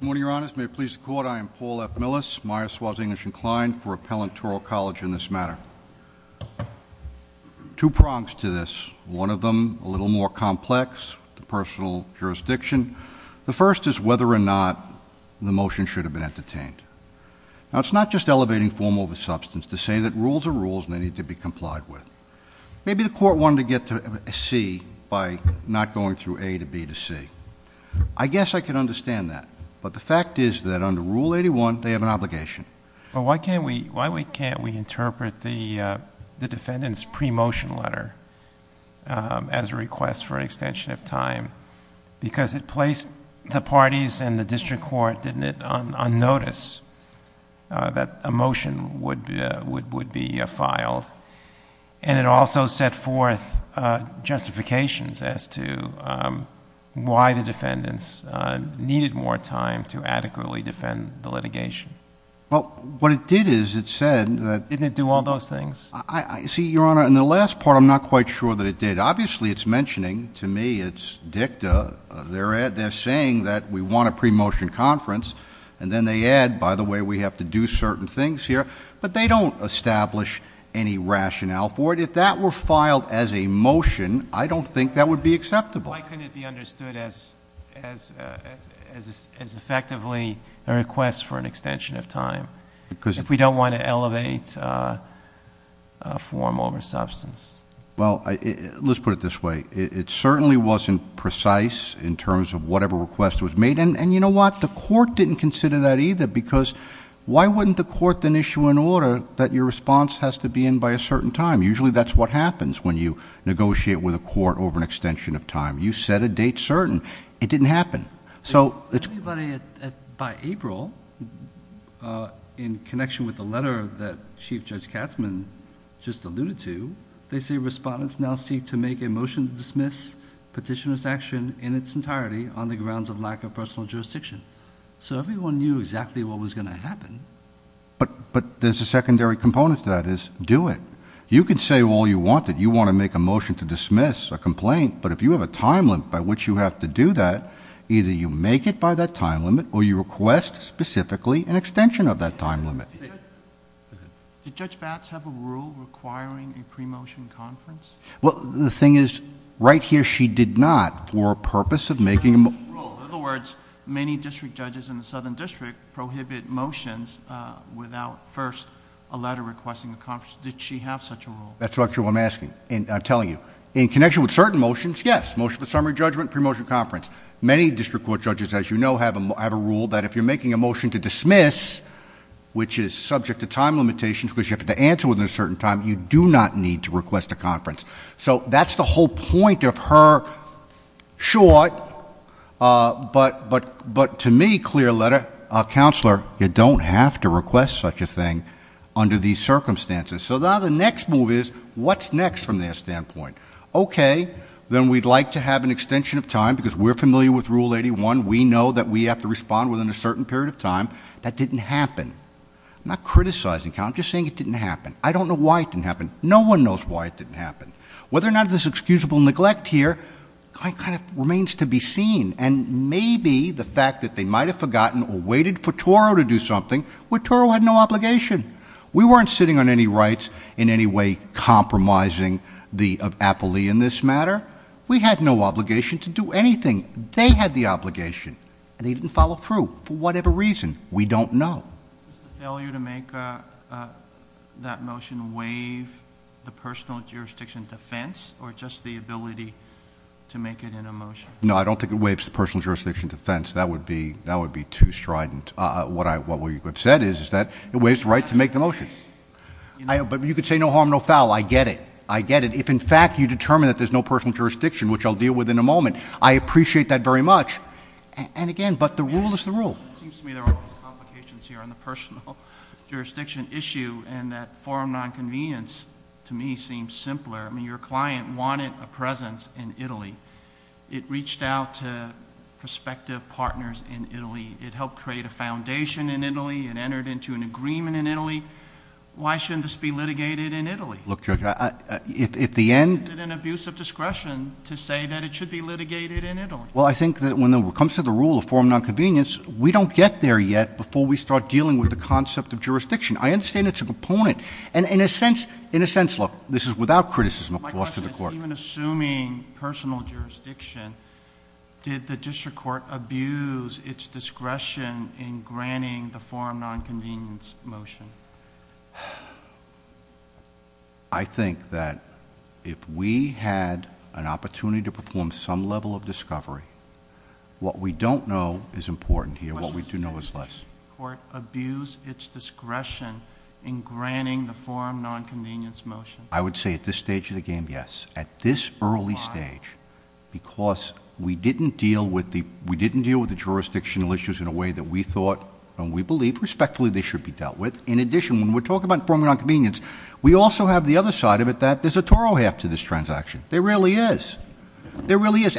Good morning, Your Honors. May it please the Court, I am Paul F. Millis, Myers-Swass English inclined for Appellant Toro College in this matter. Two prongs to this, one of them a little more complex, the personal jurisdiction. The first is whether or not the motion should have been entertained. Now it's not just elevating form over substance to say that rules are rules and they need to be complied with. Maybe the court wanted to get to C by not going through A to B to C. I guess I could understand that, but the fact is that under Rule 81 they have an obligation. But why can't we, why we can't we interpret the defendant's pre-motion letter as a request for an extension of time? Because it placed the parties and the district court, didn't it, on notice that a motion would be filed and it also set forth justifications as to why the defendants needed more time to adequately defend the litigation. Well, what it did is it said that... Didn't it do all those things? See, Your Honor, in the last part I'm not quite sure that it did. Obviously it's mentioning, to me it's dicta, they're saying that we want a pre-motion conference and then they add, by the way, we have to do certain things here. But they don't establish any rationale for it. If that were filed as a motion, I don't think that would be acceptable. Why couldn't it be understood as effectively a request for an extension of time? Because if we don't want to elevate form over substance. Well, let's put it this way. It certainly wasn't precise in terms of whatever request was made. And you know what? The court didn't consider that either because, why wouldn't the court then issue an order that your response has to be in by a certain time? Usually that's what happens when you negotiate with a court over an extension of time. You set a date certain. It didn't happen. So... Everybody, by April, in connection with the letter that Chief Judge Katzmann just alluded to, they say respondents now seek to make a motion to dismiss petitioner's action in its entirety on the grounds of lack of personal jurisdiction. So everyone knew exactly what was going to happen. But there's a secondary component to that is, do it. You could say all you wanted. You want to make a motion to dismiss a complaint. But if you have a time limit by which you have to do that, either you make it by that time limit or you request specifically an extension of that time limit. Did Judge Batts have a rule requiring a pre-motion conference? Well, the thing is, right here she did not for a purpose of making... Rule. Rule. In other words, many district judges in the Southern District prohibit motions without first a letter requesting a conference. Did she have such a rule? That's actually what I'm asking and I'm telling you. In connection with certain motions, yes. Motion for summary judgment, pre-motion conference. Many district court judges, as you know, have a rule that if you're making a motion to dismiss, which is subject to time limitations because you have to answer within a certain time, you do not need to request a conference. So that's the whole point of her short, but to me, clear letter, Counselor, you don't have to request such a thing under these circumstances. So now the next move is, what's next from their standpoint? Okay, then we'd like to have an extension of time because we're familiar with Rule 81. We know that we have to respond within a certain period of time. That didn't happen. I'm not criticizing. I'm just saying it didn't happen. I mean, no one knows why it didn't happen. Whether or not there's excusable neglect here kind of remains to be seen and maybe the fact that they might have forgotten or waited for Toro to do something where Toro had no obligation. We weren't sitting on any rights in any way compromising the appellee in this matter. We had no obligation to do anything. They had the obligation. They didn't follow through for whatever reason. We don't know. Is the failure to make that motion waive the personal jurisdiction defense or just the ability to make it in a motion? No, I don't think it waives the personal jurisdiction defense. That would be too strident. What we have said is that it waives the right to make the motion. But you could say no harm, no foul. I get it. I get it. If in fact you determine that there's no personal jurisdiction, which I'll deal with in a moment, I appreciate that very much. And again, but the rule is the rule. It seems to me there are complications here on the personal jurisdiction issue and that forum nonconvenience to me seems simpler. I mean, your client wanted a presence in Italy. It reached out to prospective partners in Italy. It helped create a foundation in Italy. It entered into an agreement in Italy. Why shouldn't this be litigated in Italy? Look, Judge, if the end... Is it an abuse of discretion to say that it should be litigated in Italy? Well, I think that when it comes to the rule of forum nonconvenience, we don't get there yet before we start dealing with the concept of jurisdiction. I understand it's a component. And in a sense... in a sense... look, this is without criticism, of course, to the court. My question is, even assuming personal jurisdiction, did the district court abuse its discretion in granting the forum nonconvenience motion? I think that if we had an opportunity to perform some level of I would say, at this stage of the game, yes. At this early stage, because we didn't deal with the jurisdictional issues in a way that we thought and we believe, respectfully, they should be dealt with. In addition, when we're talking about forum nonconvenience, we also have the other side of it that there's a toro half to this transaction. There really is. There really is.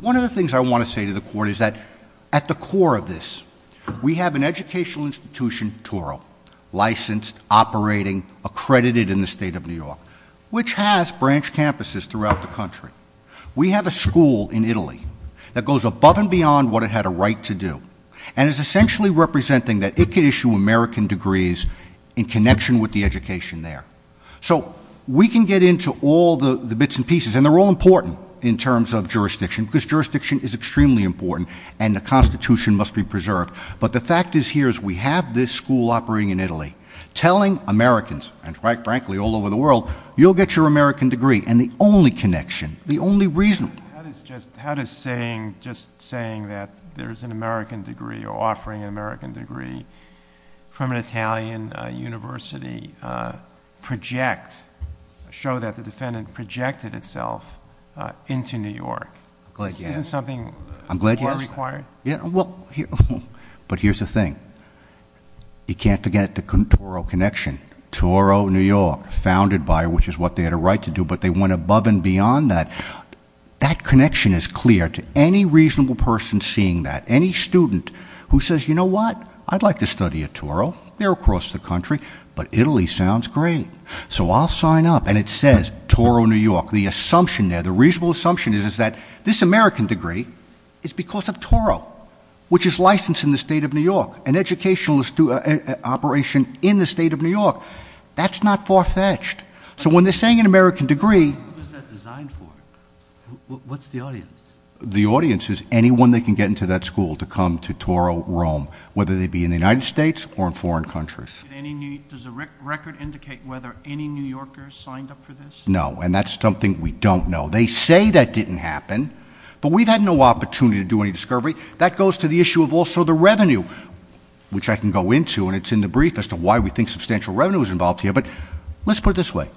One of the things I want to say to the court is that at the core of this, we have an educational institution, toro, licensed, operating, accredited in the state of New York, which has branch campuses throughout the country. We have a school in Italy that goes above and beyond what it had a right to do and is essentially representing that it could issue American degrees in connection with the education there. So we can get into all the bits and pieces. And they're all important in terms of jurisdiction, because jurisdiction is extremely important and the Constitution must be preserved. But the fact is here is we have this school operating in Italy, telling Americans, and quite frankly all over the world, you'll get your American degree. And the only connection, the only reason... How does just saying that there's an American degree or offering an American degree from an Italian university project, show that the connection is clear to any reasonable person seeing that? Any student who says, you know what? I'd like to study at toro. They're across the country. But Italy sounds great. So I'll sign up. And it says toro New York. The assumption there, the reasonable assumption, is that this American degree is because of toro, which is licensed in the state of New York. An educational operation in the state of New York. That's not far-fetched. So when they're saying an American degree... Who is that designed for? What's the audience? The audience is anyone that can get into that school to come to toro Rome, whether they be in the United States or in foreign countries. Does the record indicate whether any New Yorkers signed up for this? No. And that's something we don't know. They say that didn't happen. But we've had no opportunity to do any discovery. That goes to the issue of also the revenue, which I can go into. And it's in the brief as to why we think substantial revenue was involved here. But let's put it this way.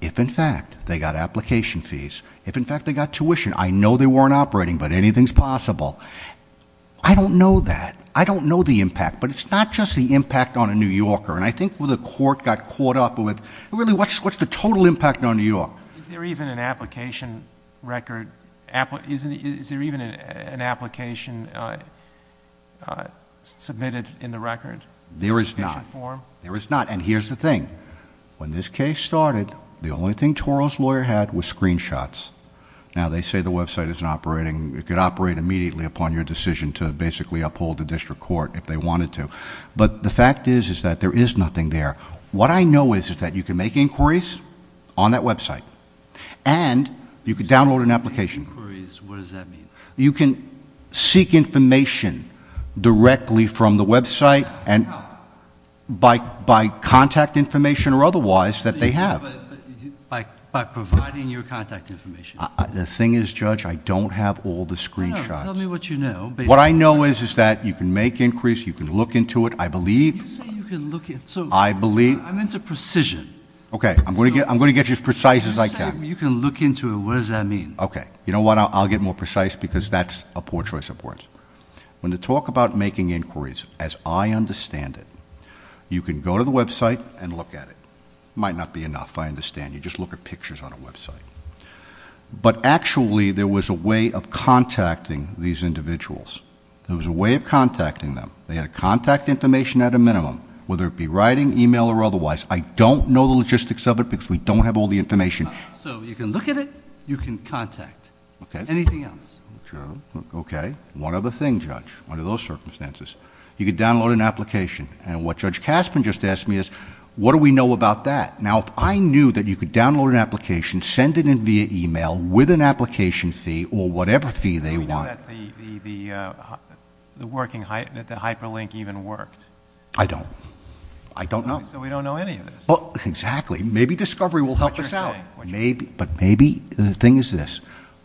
If, in fact, they got application fees, if, in fact, they got tuition, I know they weren't operating, but anything's possible. I don't know that. I don't know the impact. But it's not just the impact on a New Yorker. And I think where the court got caught up with... Really, what's the total impact on New York? Is there even an application record... Is there even an application submitted in the record? There is not. In the application form? There is not. And here's the thing. When this case started, the only thing Toro's lawyer had was screenshots. Now, they say the website isn't operating. It could operate immediately upon your decision to basically uphold the district court if they wanted to. But the fact is that there is nothing there. What I know is that you can make inquiries on that website, and you can download an application... Make inquiries? What does that mean? You can seek information directly from the website and by contact information or otherwise that they have. By providing your contact information? The thing is, Judge, I don't have all the screenshots. No, no. Tell me what you know. What I know is that you can make inquiries. You can look into it, I believe. You say you can look... I believe. I'm into precision. Okay. I'm going to get you as precise as I can. You say you can look into it. What does that mean? Okay. You know what? I'll get more precise because that's a poor choice of words. When they talk about making inquiries, as I understand it, you can go to the website and look at it. It might not be enough, I understand. You just look at pictures on a website. But actually, there was a way of contacting these individuals. There was a way of contacting them. They had a contact information at a minimum, whether it be writing, email, or otherwise. I don't know the logistics of it because we don't have all the information. So you can look at it, you can contact. Anything else? Okay. One other thing, Judge, under those circumstances. You could download an application. What Judge Caspin just asked me is, what do we know about that? Now, if I knew that you could download an application, send it in via email with an application fee or whatever fee they want... I don't know that the hyperlink even worked. I don't. I don't know. So we don't know any of this. Exactly. Maybe discovery will help us out. But maybe, the thing is this,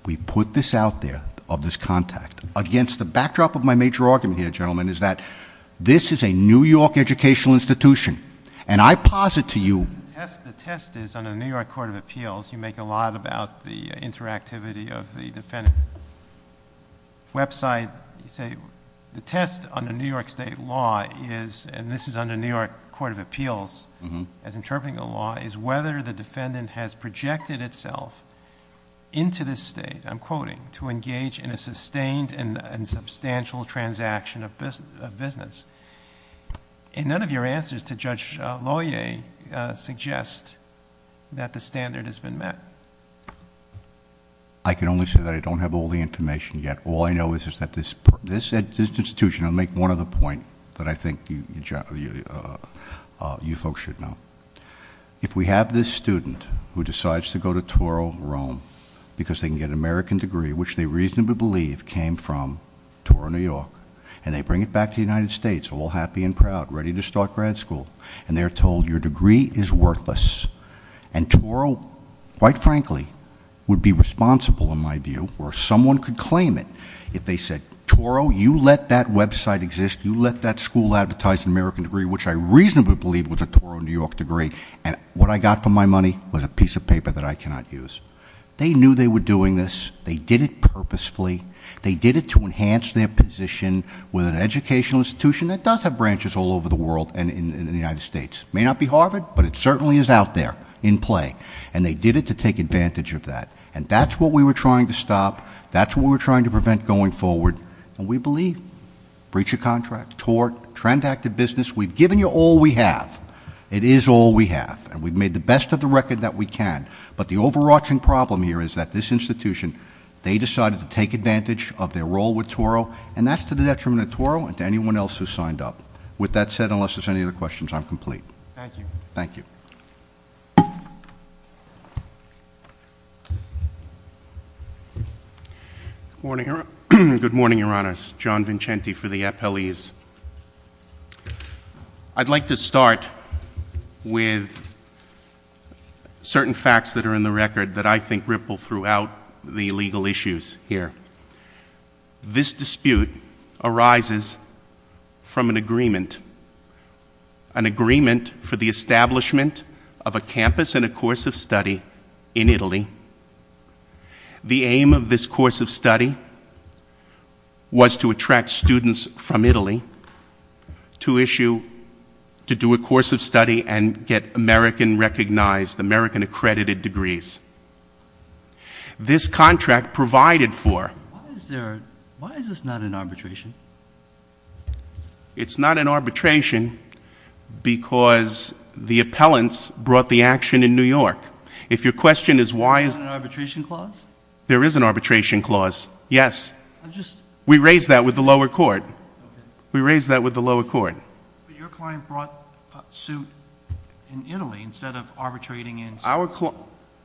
we put this out there, of this contact, against the backdrop of my major argument here, gentlemen, is that this is a New York educational institution. And I posit to you... The test is, under the New York Court of Appeals, you make a lot about the interactivity of the defendant. Website, you say, the test under New York State law is, and this is under New York Court of Appeals, as interpreting the law, is whether the defendant has projected itself into this state, I'm quoting, to engage in a sustained and substantial transaction of business. And none of your answers to Judge Lohier suggest that the standard has been met. I can only say that I don't have all the information yet. All I know is that this institution... I'll make one other point that I think you folks should know. If we have this student who decides to go to Toro, Rome, because they can get an American degree, which they reasonably believe came from Toro, New York, and they bring it back to the United States, all happy and proud, ready to start grad school, and they're told, your degree is worthless. And Toro, quite frankly, would be responsible, in my view, or someone could claim it, if they said, Toro, you let that website exist, you let that school advertise an American degree, which I reasonably believe was a Toro, New York degree, and what I got for my money was a piece of paper that I cannot use. They knew they were doing this. They did it purposefully. They did it to enhance their position with an educational institution that does have branches all over the world and in the United States. It may not be Harvard, but it certainly is out there, in play. And they did it to take advantage of that. And that's what we were trying to stop. That's what we were trying to prevent going forward. And we believe, breach of contract, tort, transacted business, we've given you all we have. It is all we have. And we've made the best of the record that we can. But the overarching problem here is that this institution, they decided to take advantage of their role with Toro, and that's to the detriment of Toro and to anyone else who signed up. With that said, unless there's any other questions, I'm complete. Thank you. Thank you. Good morning, Your Honors. John Vincenti for the appellees. I'd like to start with certain facts that are in the record that I think ripple throughout the legal issues here. This dispute arises from an agreement, an agreement for the establishment of a campus and a course of study in Italy. The aim of this course of study was to attract students from Italy to issue, to do a course of study and get American recognized, American accredited degrees. This contract provided for... Why is this not an arbitration? It's not an arbitration because the appellants brought the action in New York. If your question is why... There's not an arbitration clause? There is an arbitration clause. Yes. We raised that with the lower court. We raised that with the lower court.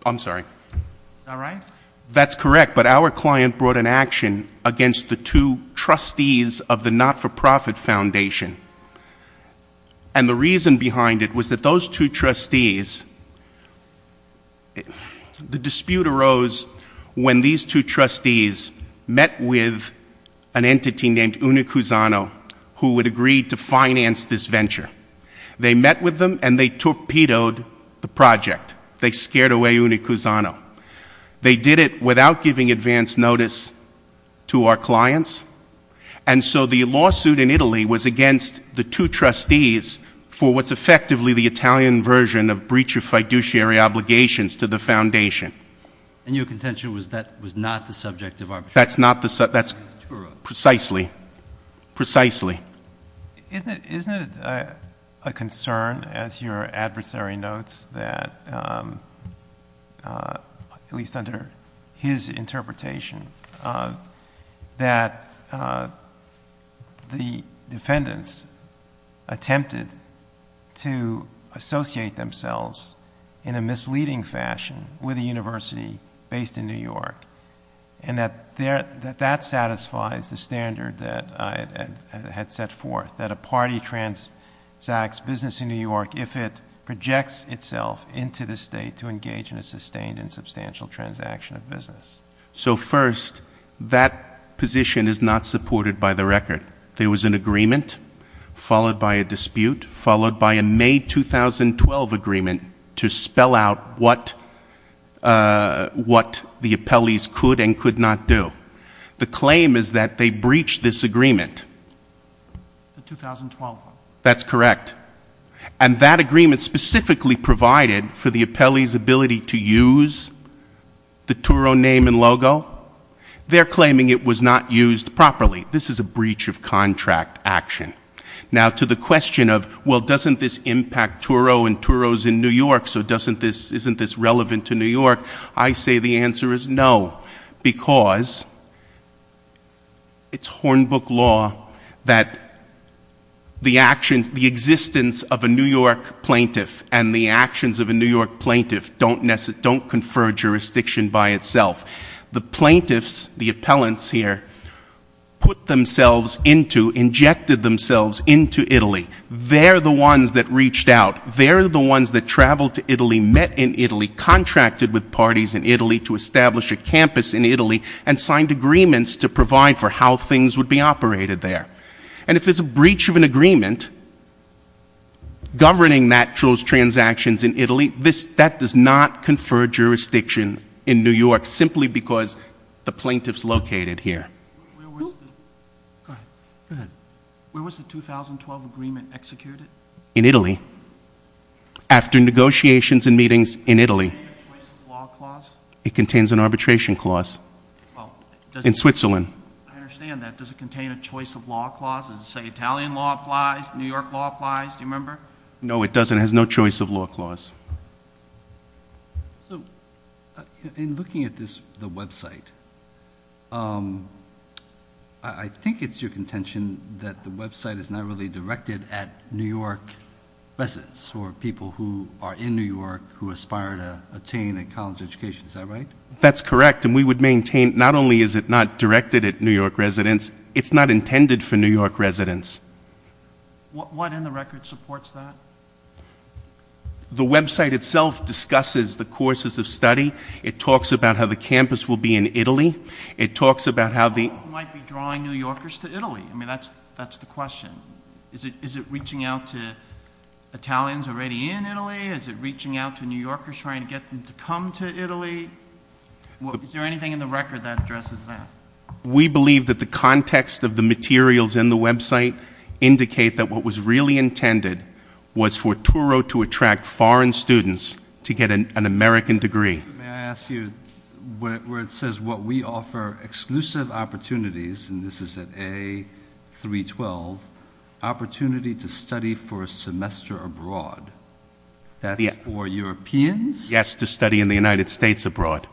I'm sorry. Is that right? That's correct, but our client brought an action against the two trustees of the not-for-profit foundation. The reason behind it was that those two trustees... the dispute arose when these two trustees met with an entity named Unicuzano, who had agreed to finance this venture. They met with project. They scared away Unicuzano. They did it without giving advance notice to our clients, and so the lawsuit in Italy was against the two trustees for what's effectively the Italian version of breach of fiduciary obligations to the foundation. And your contention was that was not the subject of arbitration? That's not the subject. That's true. Precisely. Precisely. Isn't it a concern, as your adversary notes that, at least under his interpretation, that the defendants attempted to associate themselves in a misleading fashion with a university based in New York, and that that satisfies the standard that I had set forth, that a party transacts business in New York if it projects itself into the state to engage in a sustained and substantial transaction of business? So first, that position is not supported by the record. There was an agreement, followed by a dispute, followed by a May 2012 agreement to what the appellees could and could not do. The claim is that they breached this agreement. The 2012 one. That's correct. And that agreement specifically provided for the appellee's ability to use the Turo name and logo. They're claiming it was not used properly. This is a breach of contract action. Now to the question of, well, doesn't this impact Turo and Turo's in New York, I say the answer is no, because it's Hornbook law that the actions, the existence of a New York plaintiff and the actions of a New York plaintiff don't confer jurisdiction by itself. The plaintiffs, the appellants here, put themselves into, injected themselves into Italy. They're the ones that reached out. They're the ones that traveled to Italy, met in Italy, contracted with parties in Italy to establish a campus in Italy and signed agreements to provide for how things would be operated there. And if there's a breach of an agreement governing that Turo's transactions in Italy, this, that does not confer jurisdiction in New York, simply because the plaintiff's located here. Where was the 2012 agreement executed? In Italy. After negotiations and meetings in Italy. Does it contain a choice of law clause? It contains an arbitration clause in Switzerland. I understand that. Does it contain a choice of law clause? Does it say Italian law applies, New York law applies? Do you remember? No, it doesn't. It has no choice of law clause. In looking at this, the website, I think it's your contention that the website is not really directed at New York residents, or people who are in New York who aspire to attain a college education. Is that right? That's correct. And we would maintain, not only is it not directed at New York residents, it's not intended for New York residents. What in the record supports that? The website itself discusses the courses of study. It talks about how the campus will be in Italy. It talks about how the... drawing New Yorkers to Italy. I mean, that's the question. Is it reaching out to Italians already in Italy? Is it reaching out to New Yorkers trying to get them to come to Italy? Is there anything in the record that addresses that? We believe that the context of the materials in the website indicate that what was really intended was for Turo to attract foreign students to get an American degree. May I ask you, where it says, what we offer exclusive opportunities, and this is at A312, opportunity to study for a semester abroad, that's for Europeans? Yes, to study in the United States abroad.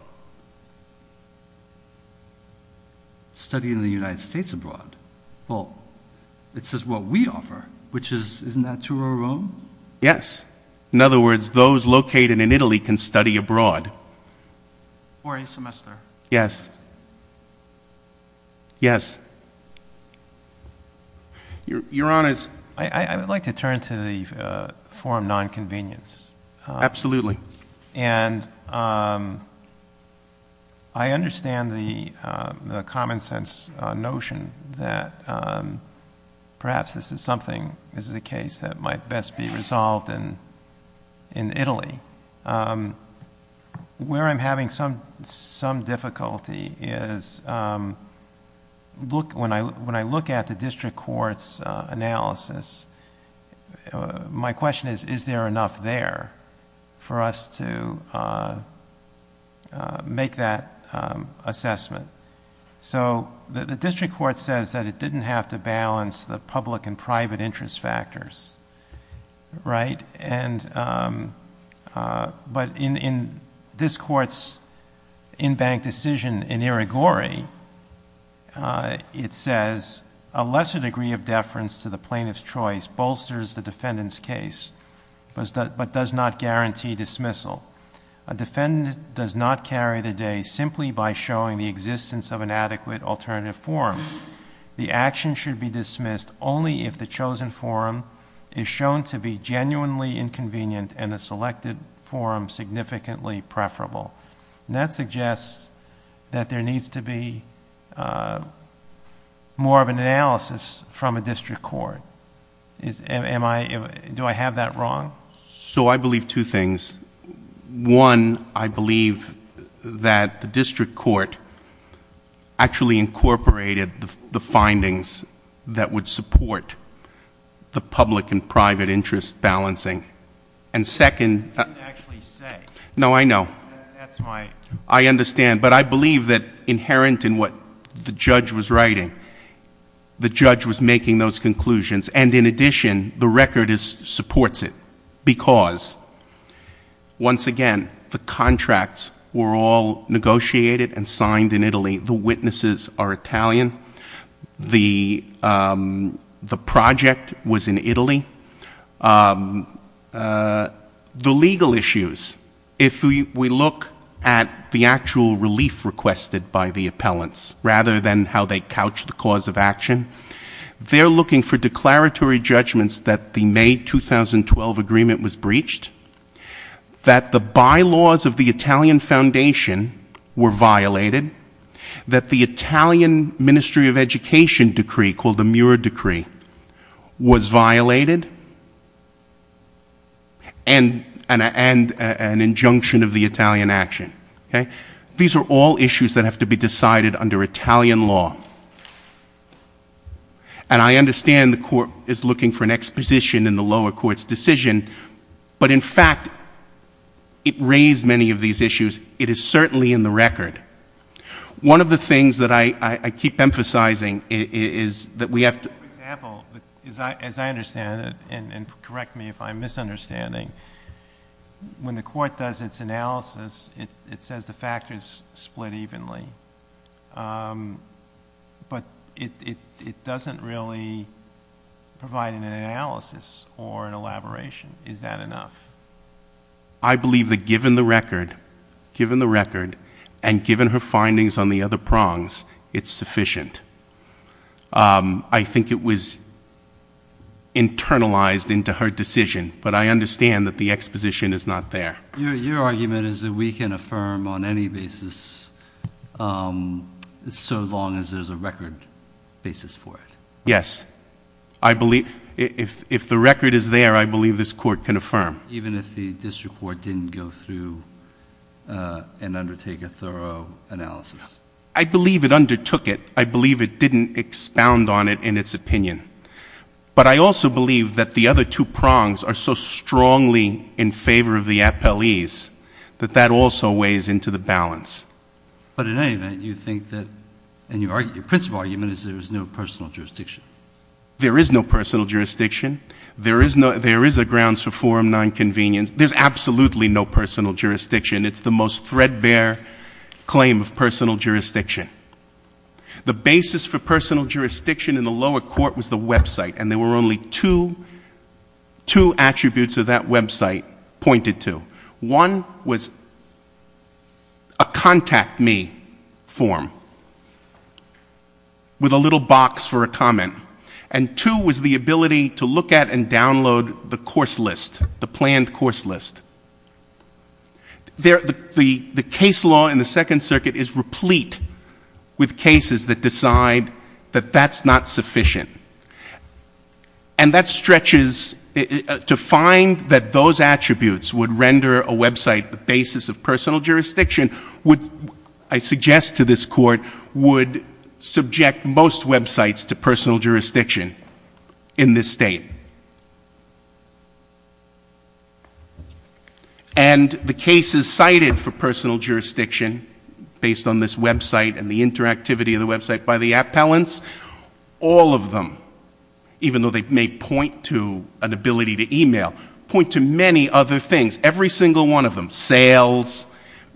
Study in the United States abroad. Well, it says what we offer, which is, isn't that Turo or Rome? Yes. In other words, those located in Italy can study abroad. For a semester. Yes. Yes. Your Honor's... I would like to turn to the forum non-convenience. Absolutely. And I understand the common sense notion that perhaps this is something, this is a case that might best be resolved in Italy. Where I'm having some difficulty is, when I look at the district court's analysis, my question is, is there enough there for us to make that assessment? So, the district court says that it didn't have to balance the public and private interest factors, right? And, but in this court's in-bank decision in Irigori, it says, a lesser degree of deference to the plaintiff's choice bolsters the defendant's case, but does not guarantee dismissal. A defendant does not carry the day simply by showing the existence of an adequate alternative forum. The action should be dismissed only if the chosen forum is shown to be genuinely inconvenient and the selected forum significantly preferable. And that suggests that there needs to be more of an analysis from a district court. Am I, do I have that wrong? So, I believe two things. One, I believe that the district court actually incorporated the findings that would support the public and private interest balancing. And second- You didn't actually say. No, I know. That's my- I understand, but I believe that inherent in what the judge was writing, the judge was making those conclusions. And in addition, the record supports it. Because, once again, the contracts were all negotiated and signed in Italy. The witnesses are Italian. The project was in Italy. The legal issues, if we look at the actual relief requested by the appellants, rather than how they couched the cause of action, they're looking for declaratory judgments that the May 2012 agreement was breached, that the bylaws of the Italian foundation were violated, that the Italian Ministry of Education decree, called the Muir Decree, was violated, and an injunction of the Italian action. Okay? These are all issues that have to be decided under Italian law. And I understand the court is looking for an exposition in the lower court's decision, but in fact, it raised many of these issues. It is certainly in the record. One of the things that I keep emphasizing is that we have to- For example, as I understand it, and correct me if I'm misunderstanding, when the court does its analysis, it says the factors split evenly. But it doesn't really provide an analysis or an elaboration. Is that enough? I believe that given the record, and given her findings on the other prongs, it's sufficient. I think it was internalized into her decision, but I understand that the exposition is not there. Your argument is that we can affirm on any basis, so long as there's a record basis for it. Yes. I believe- If the record is there, I believe this court can affirm. Even if the district court didn't go through and undertake a thorough analysis. I believe it undertook it. I believe it didn't expound on it in its opinion. But I also believe that the other two prongs are so strongly in favor of the appellees that that also weighs into the balance. But in any event, you think that- And your principle argument is there is no personal jurisdiction. There is no personal jurisdiction. There is a grounds for forum nonconvenience. There's absolutely no personal jurisdiction. It's the most threadbare claim of personal jurisdiction. The basis for personal jurisdiction in the lower court was the website, and there were only two attributes that that website pointed to. One was a contact me form with a little box for a comment. And two was the ability to look at and download the course list, the planned course list. The case law in the Second Circuit is replete with cases that decide that that's not sufficient. And that stretches to find that those attributes would render a website the basis of personal jurisdiction would, I suggest to this court, would subject most websites to personal jurisdiction in this state. And the cases cited for personal jurisdiction, based on this website and the interactivity of the website by the appellants, all of them, even though they may point to an ability to email, point to many other things, every single one of them. Sales,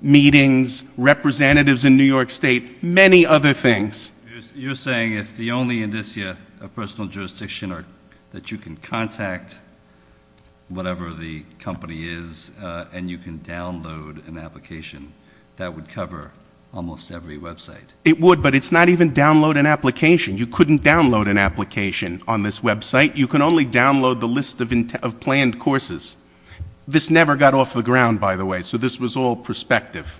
meetings, representatives in New York State, many other things. You're saying if the only indicia of personal jurisdiction are that you can contact whatever the company is and you can download an application, that would cover almost every website. It would, but it's not even download an application. You couldn't download an application on this website. You can only download the list of planned courses. This never got off the ground, by the way, so this was all perspective.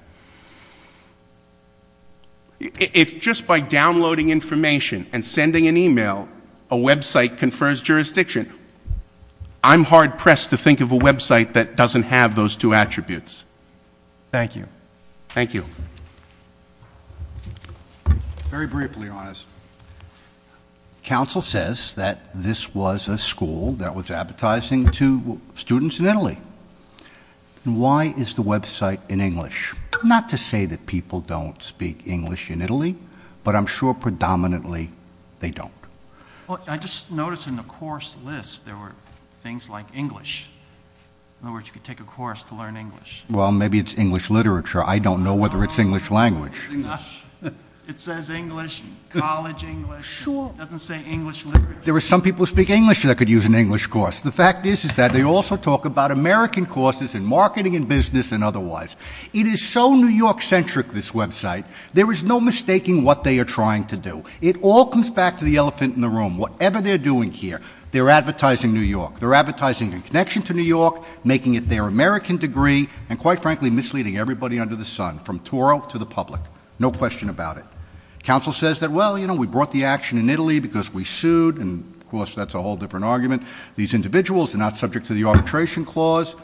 If just by downloading information and sending an email, a website confers jurisdiction, I'm hard-pressed to think of a website that doesn't have those two attributes. Thank you. Thank you. Very briefly, Your Honor. Counsel says that this was a school that was advertising to students in Italy. Why is the website in English? Not to say that people don't speak English in Italy, but I'm sure predominantly they don't. I just noticed in the course list there were things like English. In other words, you could take a course to learn English. Well, maybe it's English literature. I don't know whether it's English language. It says English, college English. It doesn't say English literature. There are some people who speak English that could use an English course. The fact is that they also talk about American courses in marketing and business and otherwise. It is so New York-centric, this website. There is no mistaking what they are trying to do. It all comes back to the elephant in the room. Whatever they're doing here, they're advertising New York. They're advertising in connection to New York, making it their American degree, and, quite frankly, misleading everybody under the sun from Toro to the public. No question about it. Counsel says that, well, you know, we brought the action in Italy because we sued, and, of course, that's a whole different argument. These individuals are not subject to the arbitration clause.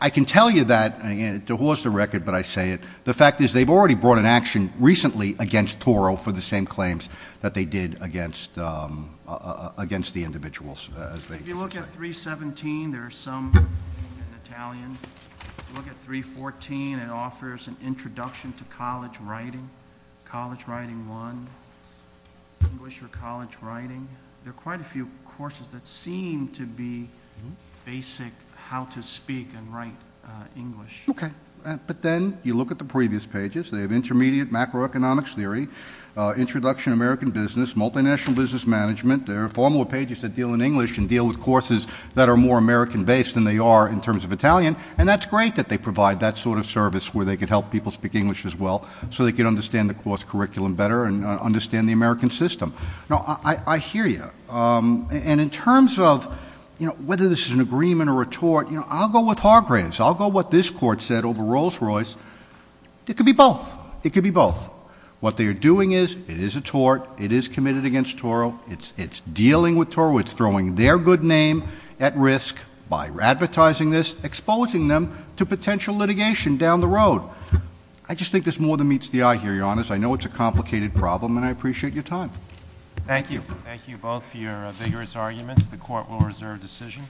I can tell you that. It dehores the record, but I say it. The fact is they've already brought an action recently against Toro for the same claims that they did against the individuals. If you look at 317, there are some in Italian. If you look at 314, it offers an introduction to college writing, college writing one, English or college writing. There are quite a few courses that seem to be basic how to speak and write English. Okay. But then you look at the previous pages. They have intermediate macroeconomics theory, introduction to American business, multinational business management. There are formal pages that deal in English and deal with courses that are more American-based than they are in terms of Italian, and that's great that they provide that sort of service where they can help people speak English as well so they can understand the course curriculum better and understand the American system. Now, I hear you. And in terms of, you know, whether this is an agreement or a tort, you know, I'll go with Hargraves. I'll go with what this Court said over Rolls-Royce. It could be both. It could be both. What they are doing is it is a tort. It is committed against Toro. It's dealing with Toro. It's throwing their good name at risk by advertising this, exposing them to potential litigation down the road. I just think this more than meets the eye here, Your Honor. To be honest, I know it's a complicated problem, and I appreciate your time. Thank you. Thank you both for your vigorous arguments. The Court will reserve decision.